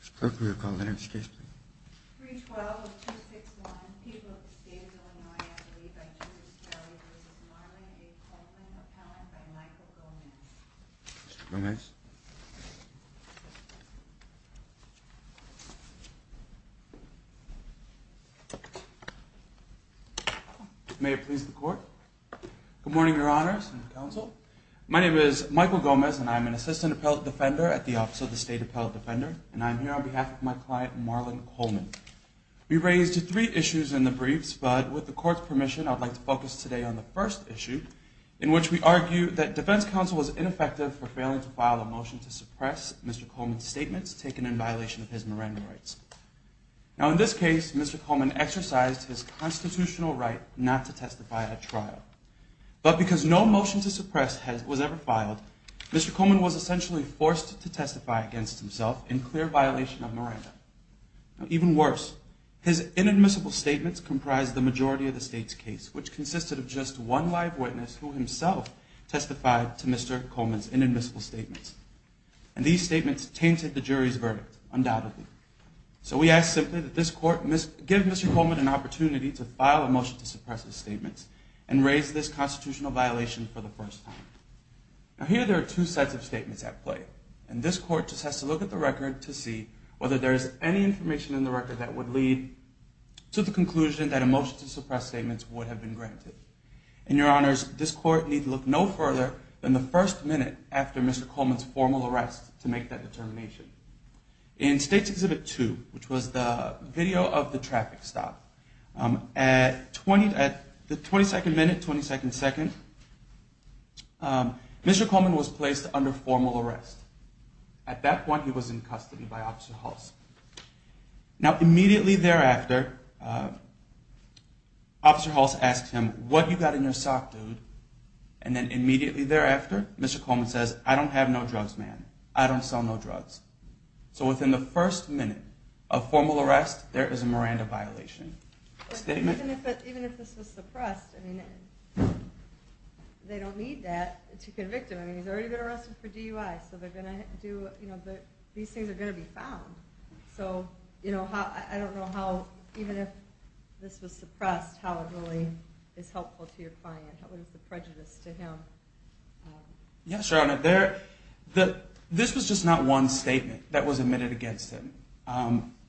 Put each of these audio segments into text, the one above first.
Mr. Clerk, will you call the next case, please? 312-261, People of the State of Illinois, a plea by Jesus Carey v. Marlon A. Coleman, appellant by Michael Gomez. Mr. Gomez? May it please the Court? Good morning, Your Honors and Counsel. My name is Michael Gomez, and I'm an assistant appellate defender at the Office of the State Appellate Defender, and I'm here on behalf of my client, Marlon Coleman. We raised three issues in the briefs, but with the Court's permission, I'd like to focus today on the first issue, in which we argue that defense counsel was ineffective for failing to file a motion to suppress Mr. Coleman's statements taken in violation of his Miranda rights. Now, in this case, Mr. Coleman exercised his constitutional right not to testify at trial. But because no motion to suppress was ever filed, Mr. Coleman was essentially forced to testify against himself in clear violation of Miranda. Even worse, his inadmissible statements comprised the majority of the State's case, which consisted of just one live witness who himself testified to Mr. Coleman's inadmissible statements. And these statements tainted the jury's verdict, undoubtedly. So we ask simply that this Court give Mr. Coleman an opportunity to file a motion to suppress his statements and raise this constitutional violation for the first time. Now, here there are two sets of statements at play, and this Court just has to look at the record to see whether there is any information in the record that would lead to the conclusion that a motion to suppress statements would have been granted. And, Your Honors, this Court needs to look no further than the first minute after Mr. Coleman's formal arrest to make that determination. In State's Exhibit 2, which was the video of the traffic stop, at the 22nd minute, 22nd second, Mr. Coleman was placed under formal arrest. At that point, he was in custody by Officer Hulse. Now, immediately thereafter, Officer Hulse asked him, What do you got in your sock, dude? And then immediately thereafter, Mr. Coleman says, I don't have no drugs, man. I don't sell no drugs. So within the first minute of formal arrest, there is a Miranda violation. Even if this was suppressed, I mean, they don't need that to convict him. I mean, he's already been arrested for DUI, so they're going to do, you know, these things are going to be found. So, you know, I don't know how, even if this was suppressed, how it really is helpful to your client. What is the prejudice to him? Yes, Your Honor. This was just not one statement that was admitted against him.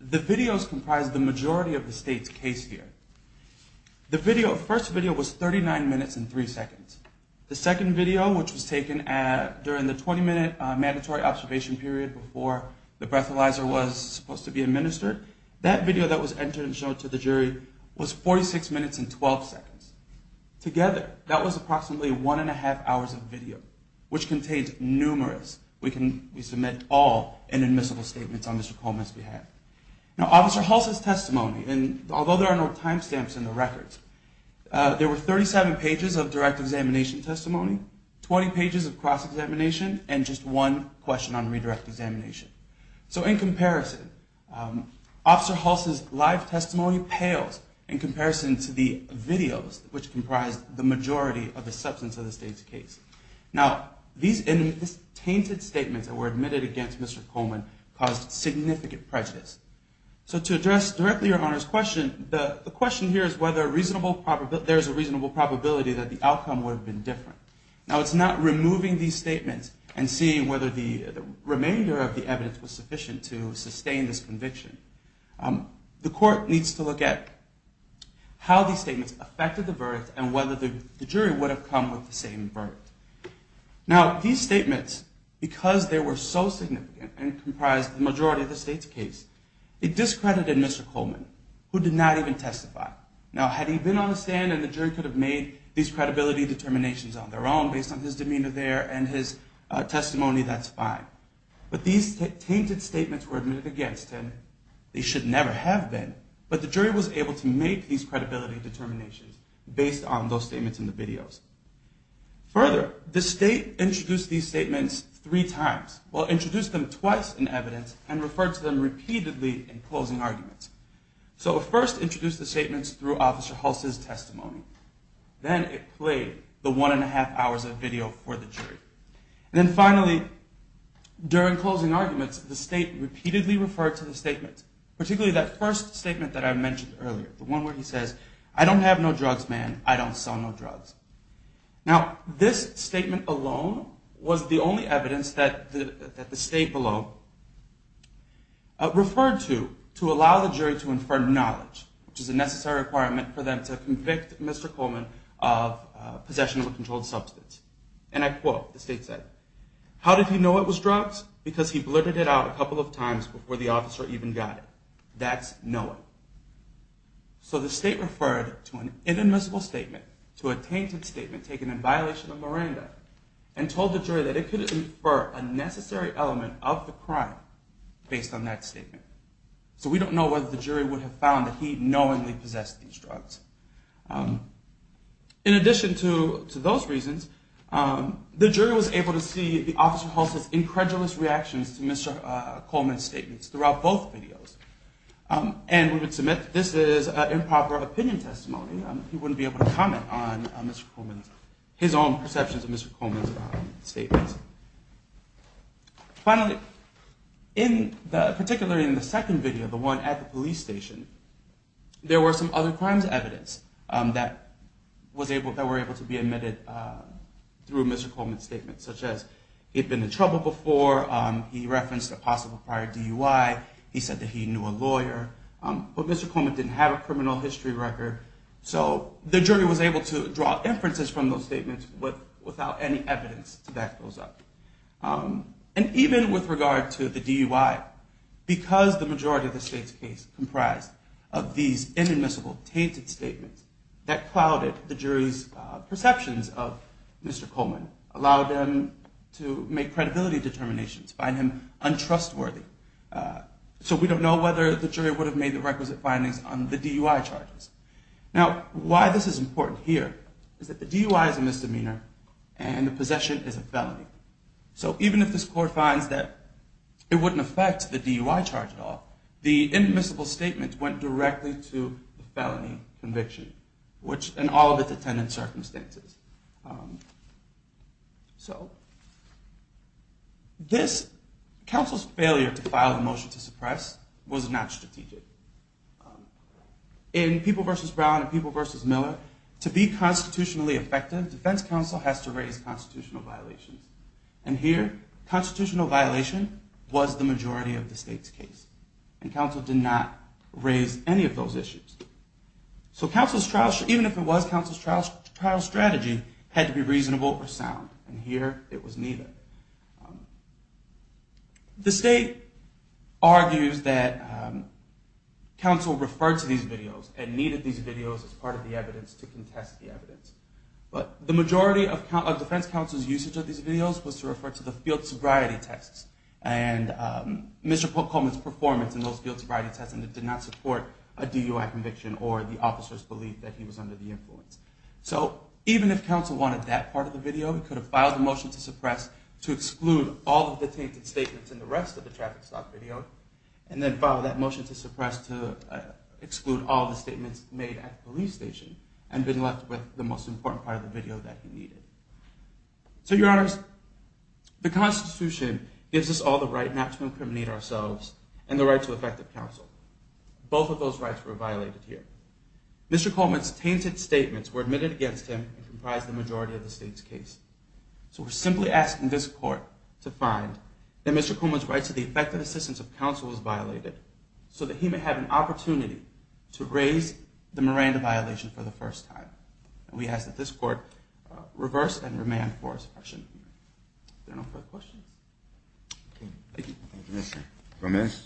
The videos comprised the majority of the State's case here. The first video was 39 minutes and 3 seconds. The second video, which was taken during the 20-minute mandatory observation period before the breathalyzer was supposed to be administered, that video that was entered and showed to the jury was 46 minutes and 12 seconds. Together, that was approximately one and a half hours of video, which contains numerous. We can submit all inadmissible statements on Mr. Coleman's behalf. Now, Officer Hulse's testimony, and although there are no timestamps in the records, there were 37 pages of direct examination testimony, 20 pages of cross-examination, and just one question on redirect examination. So in comparison, Officer Hulse's live testimony pales in comparison to the videos, which comprise the majority of the substance of the State's case. Now, these tainted statements that were admitted against Mr. Coleman caused significant prejudice. So to address directly Your Honor's question, the question here is whether there's a reasonable probability that the outcome would have been different. Now, it's not removing these statements and seeing whether the remainder of the evidence was sufficient to sustain this conviction. The court needs to look at how these statements affected the verdict and whether the jury would have come with the same verdict. Now, these statements, because they were so significant and comprised the majority of the State's case, it discredited Mr. Coleman, who did not even testify. Now, had he been on the stand and the jury could have made these credibility determinations on their own based on his demeanor there and his testimony, that's fine. But these tainted statements were admitted against him. They should never have been, but the jury was able to make these credibility determinations based on those statements in the videos. Further, the State introduced these statements three times. Well, introduced them twice in evidence and referred to them repeatedly in closing arguments. So it first introduced the statements through Officer Hulse's testimony. Then it played the one and a half hours of video for the jury. And then finally, during closing arguments, the State repeatedly referred to the statements, particularly that first statement that I mentioned earlier, the one where he says, I don't have no drugs, man. I don't sell no drugs. Now, this statement alone was the only evidence that the State below referred to to allow the jury to infer knowledge, which is a necessary requirement for them to convict Mr. Coleman of possession of a controlled substance. And I quote, the State said, how did he know it was drugs? Because he blurted it out a couple of times before the officer even got it. That's knowing. So the State referred to an inadmissible statement, to a tainted statement taken in violation of Miranda, and told the jury that it could infer a necessary element of the crime based on that statement. So we don't know whether the jury would have found that he knowingly possessed these drugs. In addition to those reasons, the jury was able to see the Officer Hulse's incredulous reactions to Mr. Coleman's statements throughout both videos. And we would submit that this is improper opinion testimony. He wouldn't be able to comment on his own perceptions of Mr. Coleman's statements. Finally, particularly in the second video, the one at the police station, there were some other crimes evidence that were able to be admitted through Mr. Coleman's statements, such as he had been in trouble before, he referenced a possible prior DUI, he said that he knew a lawyer. But Mr. Coleman didn't have a criminal history record, so the jury was able to draw inferences from those statements without any evidence to back those up. And even with regard to the DUI, because the majority of the state's case comprised of these inadmissible, tainted statements, that clouded the jury's perceptions of Mr. Coleman, allowed them to make credibility determinations, find him untrustworthy. So we don't know whether the jury would have made the requisite findings on the DUI charges. Now, why this is important here is that the DUI is a misdemeanor, and the possession is a felony. So even if this court finds that it wouldn't affect the DUI charge at all, the inadmissible statement went directly to the felony conviction, which, in all of its attendant circumstances. So this counsel's failure to file the motion to suppress was not strategic. In People v. Brown and People v. Miller, to be constitutionally effective, defense counsel has to raise constitutional violations. And here, constitutional violation was the majority of the state's case. And counsel did not raise any of those issues. So counsel's trial, even if it was counsel's trial strategy, had to be reasonable or sound. And here it was neither. The state argues that counsel referred to these videos and needed these videos as part of the evidence to contest the evidence. But the majority of defense counsel's usage of these videos was to refer to the field sobriety tests and Mr. Coleman's performance in those field sobriety tests, and it did not support a DUI conviction or the officer's belief that he was under the influence. So even if counsel wanted that part of the video, he could have filed a motion to suppress to exclude all of the tainted statements in the rest of the traffic stop video, and then filed that motion to suppress to exclude all the statements made at the police station, and been left with the most important part of the video that he needed. So, Your Honors, the Constitution gives us all the right not to incriminate ourselves and the right to effective counsel. Both of those rights were violated here. Mr. Coleman's tainted statements were admitted against him and comprised the majority of the state's case. So we're simply asking this court to find that Mr. Coleman's right to the effective assistance of counsel was violated so that he may have an opportunity to raise the Miranda violation for the first time. And we ask that this court reverse and remand for suppression. There are no further questions. Thank you. Thank you, Mr. Gomez.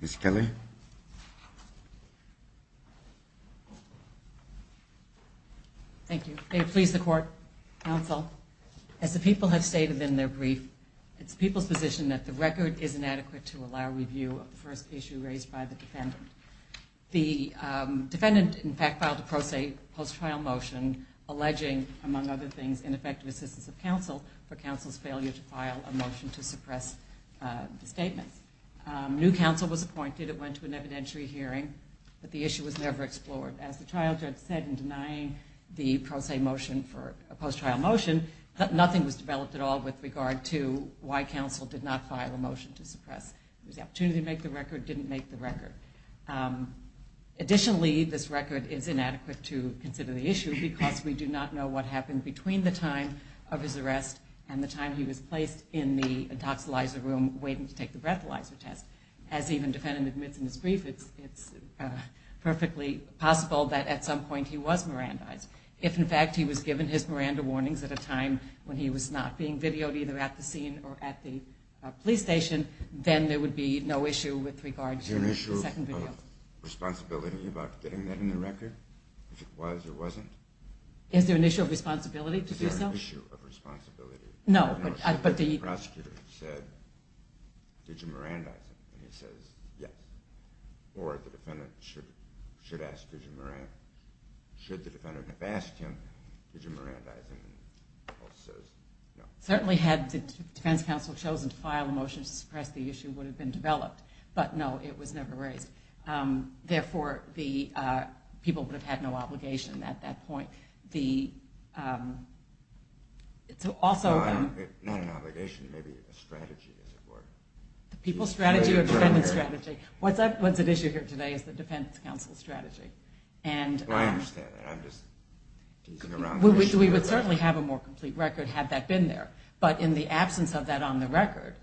Ms. Kelly. Thank you. May it please the Court, counsel, as the people have stated in their brief, it's the people's position that the record is inadequate to allow review of the first issue raised by the defendant. The defendant, in fact, filed a pro se post-trial motion alleging, among other things, an effective assistance of counsel for counsel's failure to file a motion to suppress the statement. New counsel was appointed. It went to an evidentiary hearing, but the issue was never explored. As the trial judge said in denying the pro se motion for a post-trial motion, nothing was developed at all with regard to why counsel did not file a motion to suppress. It was the opportunity to make the record, didn't make the record. Additionally, this record is inadequate to consider the issue because we do not know what happened between the time of his arrest and the time he was placed in the intoxilizer room waiting to take the breathalyzer test. As even the defendant admits in his brief, it's perfectly possible that at some point he was Mirandized. If, in fact, he was given his Miranda warnings at a time when he was not being videoed either at the scene or at the time of his arrest. Therefore, the people would have had no obligation at that point. It's also not an obligation, maybe a strategy as it were. The people's strategy or defendant's strategy. What's at issue here today is the defense counsel's strategy. I understand that. I'm just teasing around the issue. We would certainly have a more complete record had that been there, but in the absence of that on the record,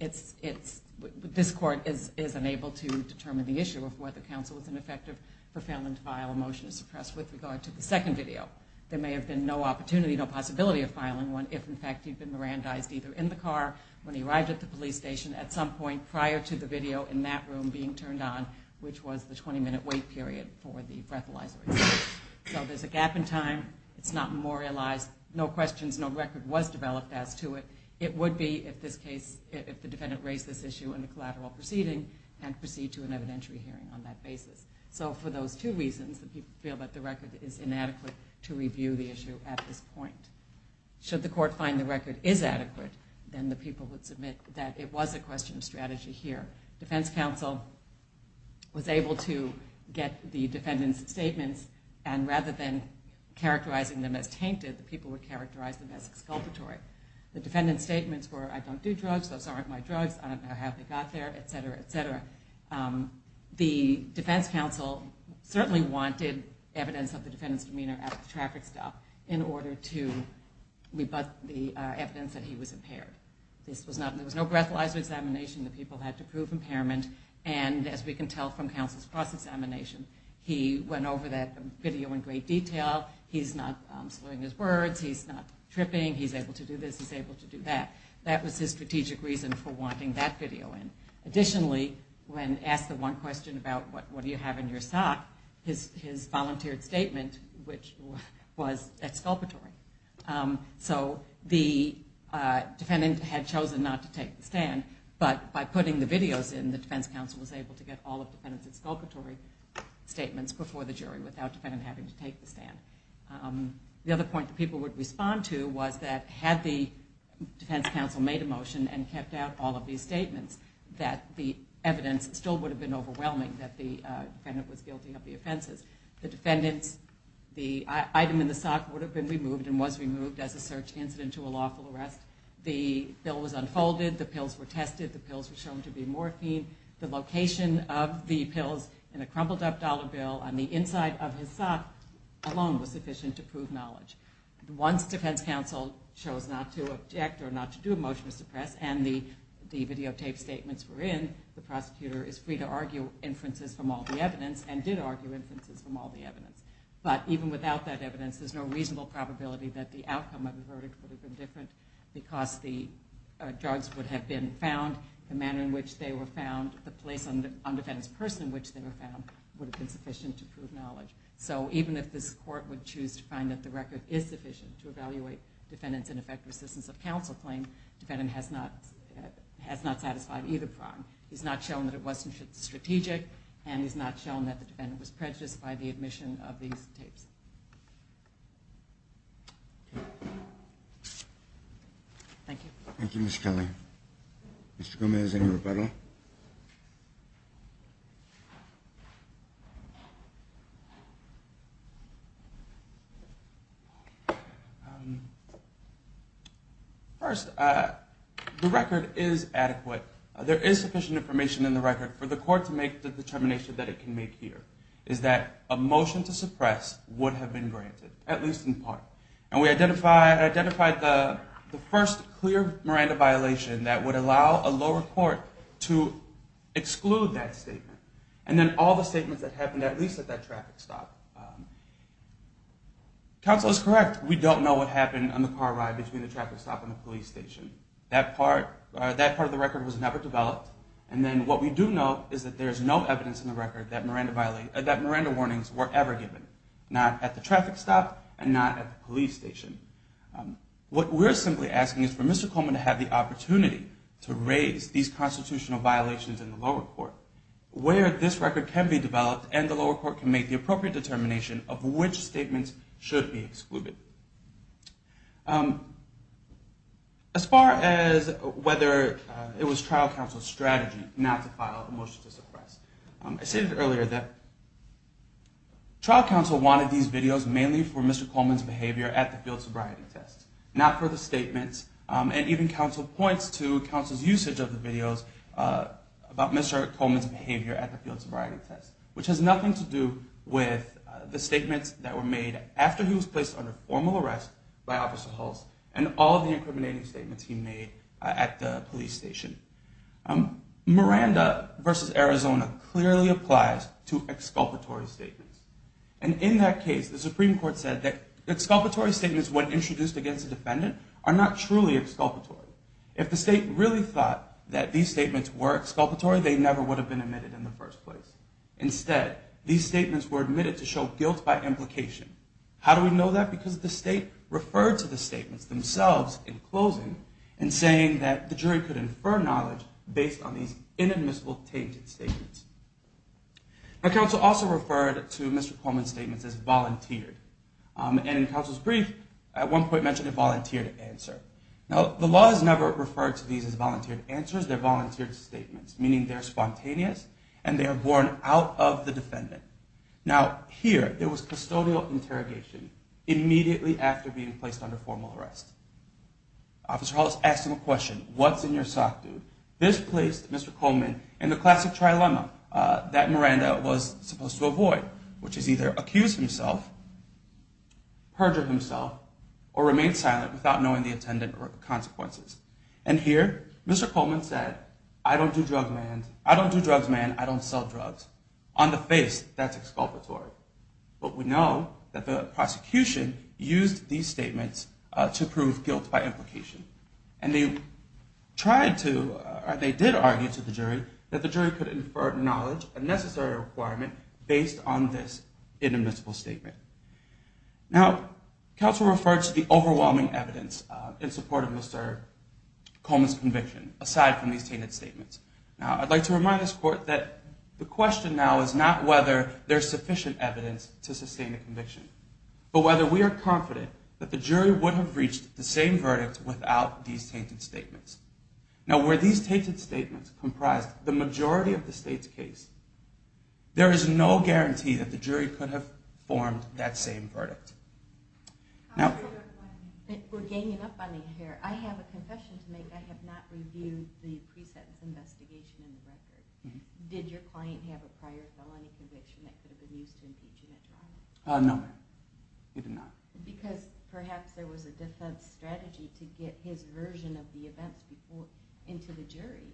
this court is unable to determine the issue of whether counsel was ineffective for failing to file a motion to suppress with regard to the second video. There may have been no opportunity, no possibility of filing one if, in fact, he'd been Mirandized either in the car when he arrived at the police station at some point prior to the video in that room being turned on, which was the 20-minute wait period for the breathalyzer test. So there's a gap in time. It's not memorialized. No questions, no record was developed as to it. It would be if the defendant raised this issue in a collateral proceeding and proceed to an evidentiary hearing on that basis. So for those two reasons, the people feel that the record is inadequate to review the issue at this point. Should the court find the record is adequate, then the people would submit that it was a question of strategy here. Defense counsel was able to get the defendant's statements, and rather than characterizing them as tainted, the people would characterize them as exculpatory. The defendant's statements were, I don't do drugs, those aren't my drugs, I don't know how they got there, et cetera, et cetera. The defense counsel certainly wanted evidence of the defendant's demeanor at the traffic stop in order to rebut the evidence that he was impaired. There was no breathalyzer examination. The people had to prove impairment. And as we can tell from counsel's cross-examination, he went over that video in great detail. He's not slurring his words. He's not tripping. He's able to do this. He's able to do that. That was his strategic reason for wanting that video in. Additionally, when asked the one question about what do you have in your sock, his volunteered statement, which was exculpatory. So the defendant had chosen not to take the stand, but by putting the videos in, the defense counsel was able to get all of the defendant's exculpatory statements before the jury without the defendant having to take the stand. The other point that people would respond to was that had the defense counsel made a motion and kept out all of these statements, that the evidence still would have been overwhelming that the defendant was guilty of the offenses. The item in the sock would have been removed and was removed as a search incident to a lawful arrest. The bill was unfolded. The pills were tested. The pills were shown to be morphine. The location of the pills in a crumpled up dollar bill on the inside of his sock alone was sufficient to prove knowledge. Once defense counsel chose not to object or not to do a motion to suppress and the videotaped statements were in, the prosecutor is free to argue inferences from all the evidence and did argue inferences from all the evidence. But even without that evidence, there's no reasonable probability that the outcome of the verdict would have been different because the drugs would have been found, the manner in which they were found, the place on the defendant's purse in which they were found would have been sufficient to prove knowledge. So even if this court would choose to find that the record is sufficient to evaluate defendant's ineffective assistance of counsel claim, the defendant has not satisfied either prong. He's not shown that it wasn't strategic and he's not shown that the defendant was prejudiced by the admission of these tapes. Thank you. Thank you, Ms. Kelly. Mr. Gomez, any rebuttal? First, the record is adequate. There is sufficient information in the record for the court to make the determination that it can make here, is that a motion to suppress would have been granted, at least in part. And we identified the first clear Miranda violation that would allow a lower court to exclude that statement. And then all the statements that happened at least at that traffic stop. Counsel is correct. We don't know what happened on the car ride between the traffic stop and the police station. That part of the record was never developed. And then what we do know is that there is no evidence in the record that Miranda warnings were ever given, not at the traffic stop and not at the police station. What we're simply asking is for Mr. Coleman to have the opportunity to raise these constitutional violations in the lower court, where this record can be developed and the lower court can make the appropriate determination of which statements should be excluded. As far as whether it was trial counsel's strategy not to file a motion to suppress. I stated earlier that trial counsel wanted these videos mainly for Mr. Coleman's behavior at the field sobriety test, not for the statements. And even counsel points to counsel's usage of the videos about Mr. Coleman's behavior at the field sobriety test, which has nothing to do with the statements that were made after he was placed under formal arrest by Officer Hulse and all of the incriminating statements he made at the police station. Miranda versus Arizona clearly applies to exculpatory statements. And in that case, the Supreme Court said that exculpatory statements when introduced against a defendant are not truly exculpatory. If the state really thought that these statements were exculpatory, they never would have been admitted in the first place. Instead, these statements were admitted to show guilt by implication. How do we know that? Because the state referred to the statements themselves in closing and saying that the jury could infer knowledge based on these inadmissible tainted statements. Now, counsel also referred to Mr. Coleman's statements as volunteered. And in counsel's brief, at one point mentioned a volunteered answer. Now, the law has never referred to these as volunteered answers. They're volunteered statements, meaning they're spontaneous and they are borne out of the defendant. Now, here, there was custodial interrogation immediately after being placed under formal arrest. Officer Hulse asked him a question, what's in your sock, dude? This placed Mr. Coleman in the classic trilemma that Miranda was supposed to avoid, which is either accuse himself, perjure himself, or remain silent without knowing the intended consequences. And here, Mr. Coleman said, I don't do drugs, man, I don't sell drugs. On the face, that's exculpatory. But we know that the prosecution used these statements to prove guilt by implication. And they tried to, or they did argue to the jury that the jury could infer knowledge, a necessary requirement, based on this inadmissible statement. Now, counsel referred to the overwhelming evidence in support of Mr. Coleman's conviction, aside from these tainted statements. Now, I'd like to remind this court that the question now is not whether there's sufficient evidence to sustain a conviction, but whether we are confident that the jury would have reached the same verdict without these tainted statements. Now, were these tainted statements comprised the majority of the state's case, there is no guarantee that the jury could have formed that same verdict. I have a confession to make. I have not reviewed the pre-sentence investigation in the record. Did your client have a prior felony conviction that could have been used to impeach him at trial? No, ma'am. He did not. Because perhaps there was a defense strategy to get his version of the events into the jury.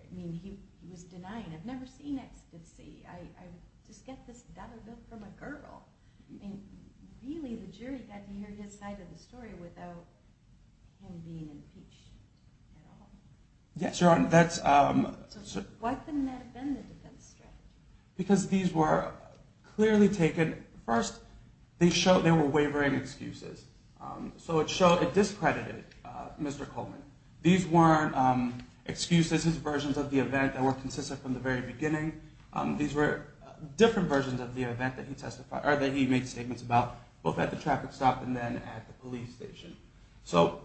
I mean, he was denying. I've never seen ecstasy. I just get this gutted look from a girl. I mean, really, the jury got to hear his side of the story without him being impeached at all. Yes, Your Honor. Why couldn't that have been the defense strategy? Because these were clearly taken. First, they were wavering excuses. So it discredited Mr. Coleman. These weren't excuses, his versions of the event that were consistent from the very beginning. These were different versions of the event that he made statements about, both at the traffic stop and then at the police station. So,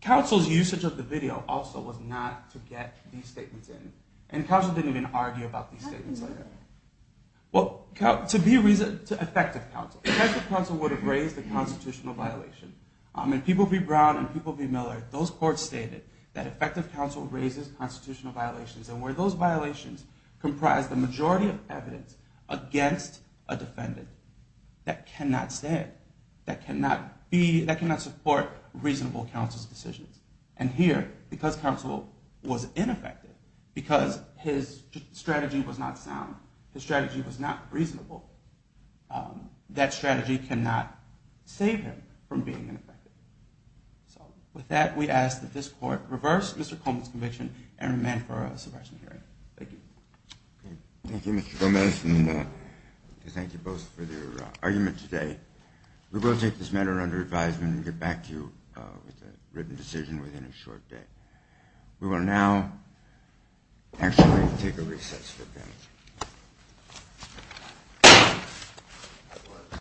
counsel's usage of the video also was not to get these statements in. And counsel didn't even argue about these statements. Effective counsel would have raised a constitutional violation. In People v. Brown and People v. Miller, those courts stated that effective counsel raises constitutional violations. And where those violations comprise the majority of evidence against a defendant that cannot stand, that cannot support reasonable counsel's decisions. And here, because counsel was ineffective, because his strategy was not sound, his strategy was not reasonable, that strategy cannot save him from being ineffective. So, with that, we ask that this Court reverse Mr. Coleman's conviction and remand for a subversion hearing. Thank you. Thank you, Mr. Gomez, and thank you both for your argument today. We will take this matter under advisement and get back to you with a written decision within a short day.